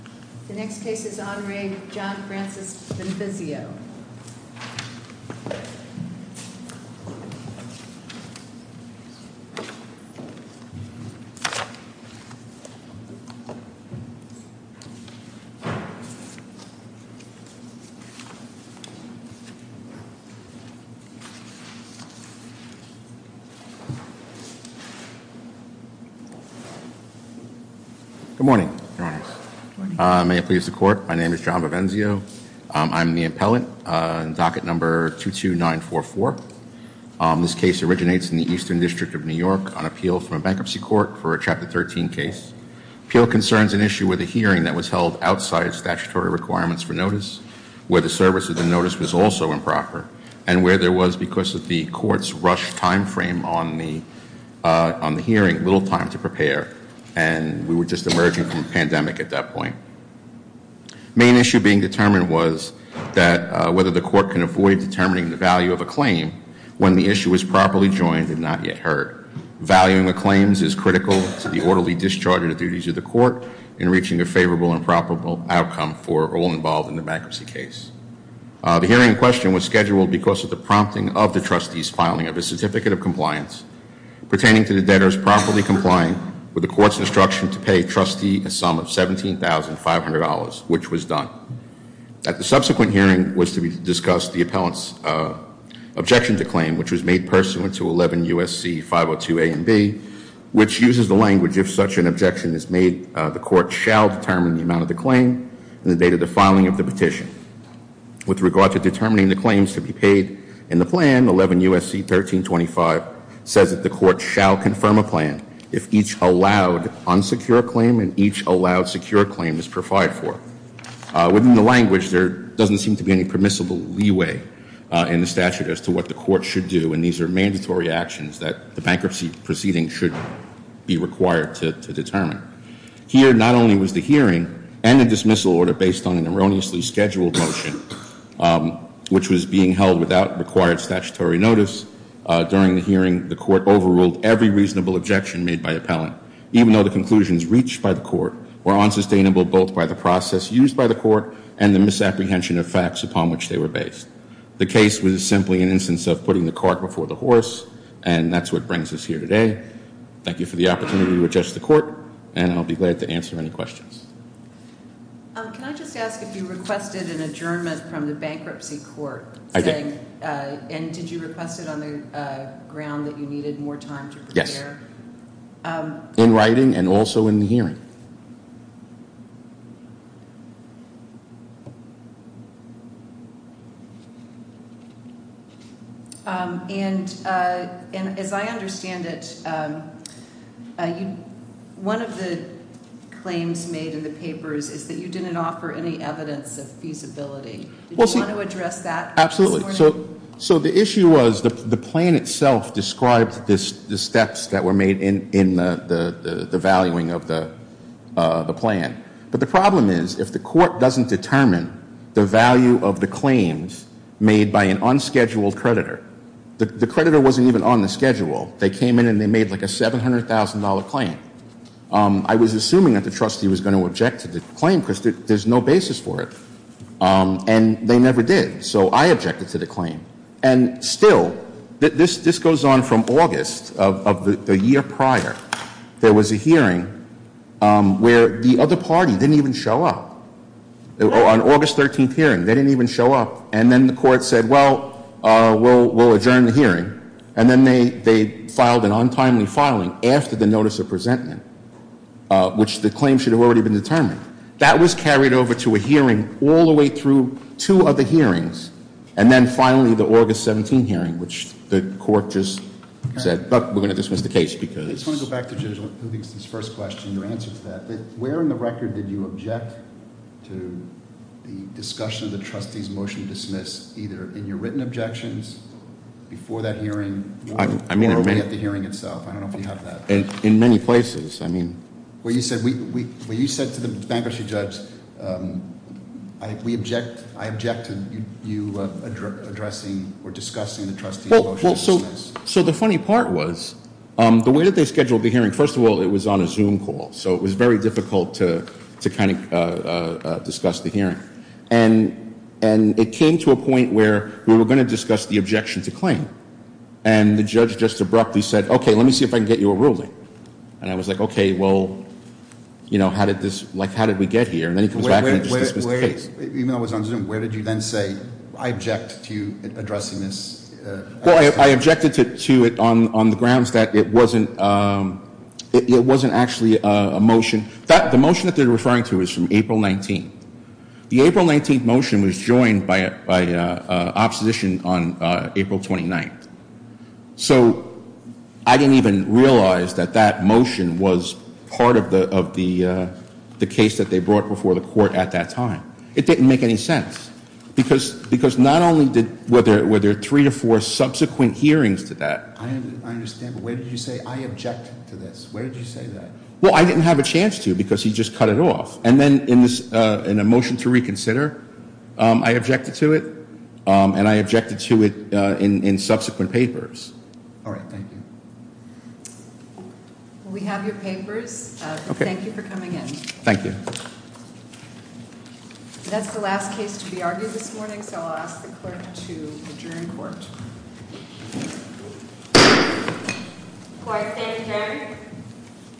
The next case is on Re. John Francis Vivenzio. Good morning, may it please the court, my name is John Vivenzio. I'm the appellant, docket number 22944. This case originates in the Eastern District of New York on appeal from a bankruptcy court for a Chapter 13 case. Appeal concerns an issue with a hearing that was held outside statutory requirements for notice, where the service of the notice was also improper, and where there was, because of the court's rushed time frame on the hearing, little time to prepare, and we were just emerging from a pandemic at that point. Main issue being determined was that whether the court can avoid determining the value of a claim when the issue is properly joined and not yet heard. Valuing the claims is critical to the orderly discharge of the duties of the court in reaching a favorable and proper outcome for all involved in the bankruptcy case. The hearing in question was scheduled because of the prompting of the trustee's filing of a certificate of compliance pertaining to the debtors properly complying with the court's instruction to pay a trustee a sum of $17,500, which was done. At the subsequent hearing was to be discussed the appellant's objection to claim, which was made pursuant to 11 U.S.C. 502 A and B, which uses the language, if such an objection is made, the court shall determine the amount of the claim and the date of the filing of the petition. With regard to determining the claims to be paid in the plan, 11 U.S.C. 1325 says that the court shall confirm a plan if each allowed unsecure claim and each allowed secure claim is provided for. Within the language, there doesn't seem to be any permissible leeway in the statute as to what the court should do, and these are mandatory actions that the bankruptcy proceeding should be required to determine. Here, not only was the hearing and the dismissal order based on an erroneously scheduled motion, which was being held without required statutory notice, during the hearing the court overruled every reasonable objection made by the appellant, even though the conclusions reached by the court were unsustainable both by the process used by the court and the misapprehension of facts upon which they were based. The case was simply an instance of putting the cart before the horse, and that's what brings us here today. Thank you for the opportunity to address the court, and I'll be glad to answer any questions. Can I just ask if you requested an adjournment from the bankruptcy court? I did. And did you request it on the ground that you needed more time to prepare? Yes, in writing and also in the hearing. And as I understand it, one of the claims made in the papers is that you didn't offer any evidence of feasibility. Did you want to address that this morning? Absolutely. So the issue was the plan itself described the steps that were made in the valuing of the application. But the problem is if the court doesn't determine the value of the claims made by an unscheduled creditor, the creditor wasn't even on the schedule. They came in and they made like a $700,000 claim. I was assuming that the trustee was going to object to the claim because there's no basis for it, and they never did. So I objected to the claim. And still, this goes on from August of the year prior. There was a hearing where the other party didn't even show up. On August 13th hearing, they didn't even show up. And then the court said, well, we'll adjourn the hearing. And then they filed an untimely filing after the notice of presentment, which the claim should have already been determined. That was carried over to a hearing all the way through two other hearings. And then finally, the August 17 hearing, which the court just said, look, we're going to dismiss the case because- I just want to go back to Jim's first question, your answer to that. Where in the record did you object to the discussion of the trustee's motion to dismiss, either in your written objections before that hearing or at the hearing itself? I don't know if you have that. In many places. Where you said to the bankruptcy judge, I object to you addressing or discussing the trustee's motion to dismiss. So the funny part was, the way that they scheduled the hearing, first of all, it was on a Zoom call. So it was very difficult to discuss the hearing. And it came to a point where we were going to discuss the objection to claim. And the judge just abruptly said, okay, let me see if I can get you a ruling. And I was like, okay, well, how did we get here? And then he comes back and dismisses the case. Even though it was on Zoom, where did you then say, I object to you addressing this? Well, I objected to it on the grounds that it wasn't actually a motion. The motion that they're referring to is from April 19th. The April 19th motion was joined by opposition on April 29th. So I didn't even realize that that motion was part of the case that they brought before the court at that time. It didn't make any sense. Because not only were there three or four subsequent hearings to that. I understand, but where did you say, I object to this? Where did you say that? Well, I didn't have a chance to because he just cut it off. And then in a motion to reconsider, I objected to it. And I objected to it in subsequent papers. All right, thank you. We have your papers. Thank you for coming in. Thank you. That's the last case to be argued this morning. So I'll ask the clerk to adjourn court. Court is adjourned.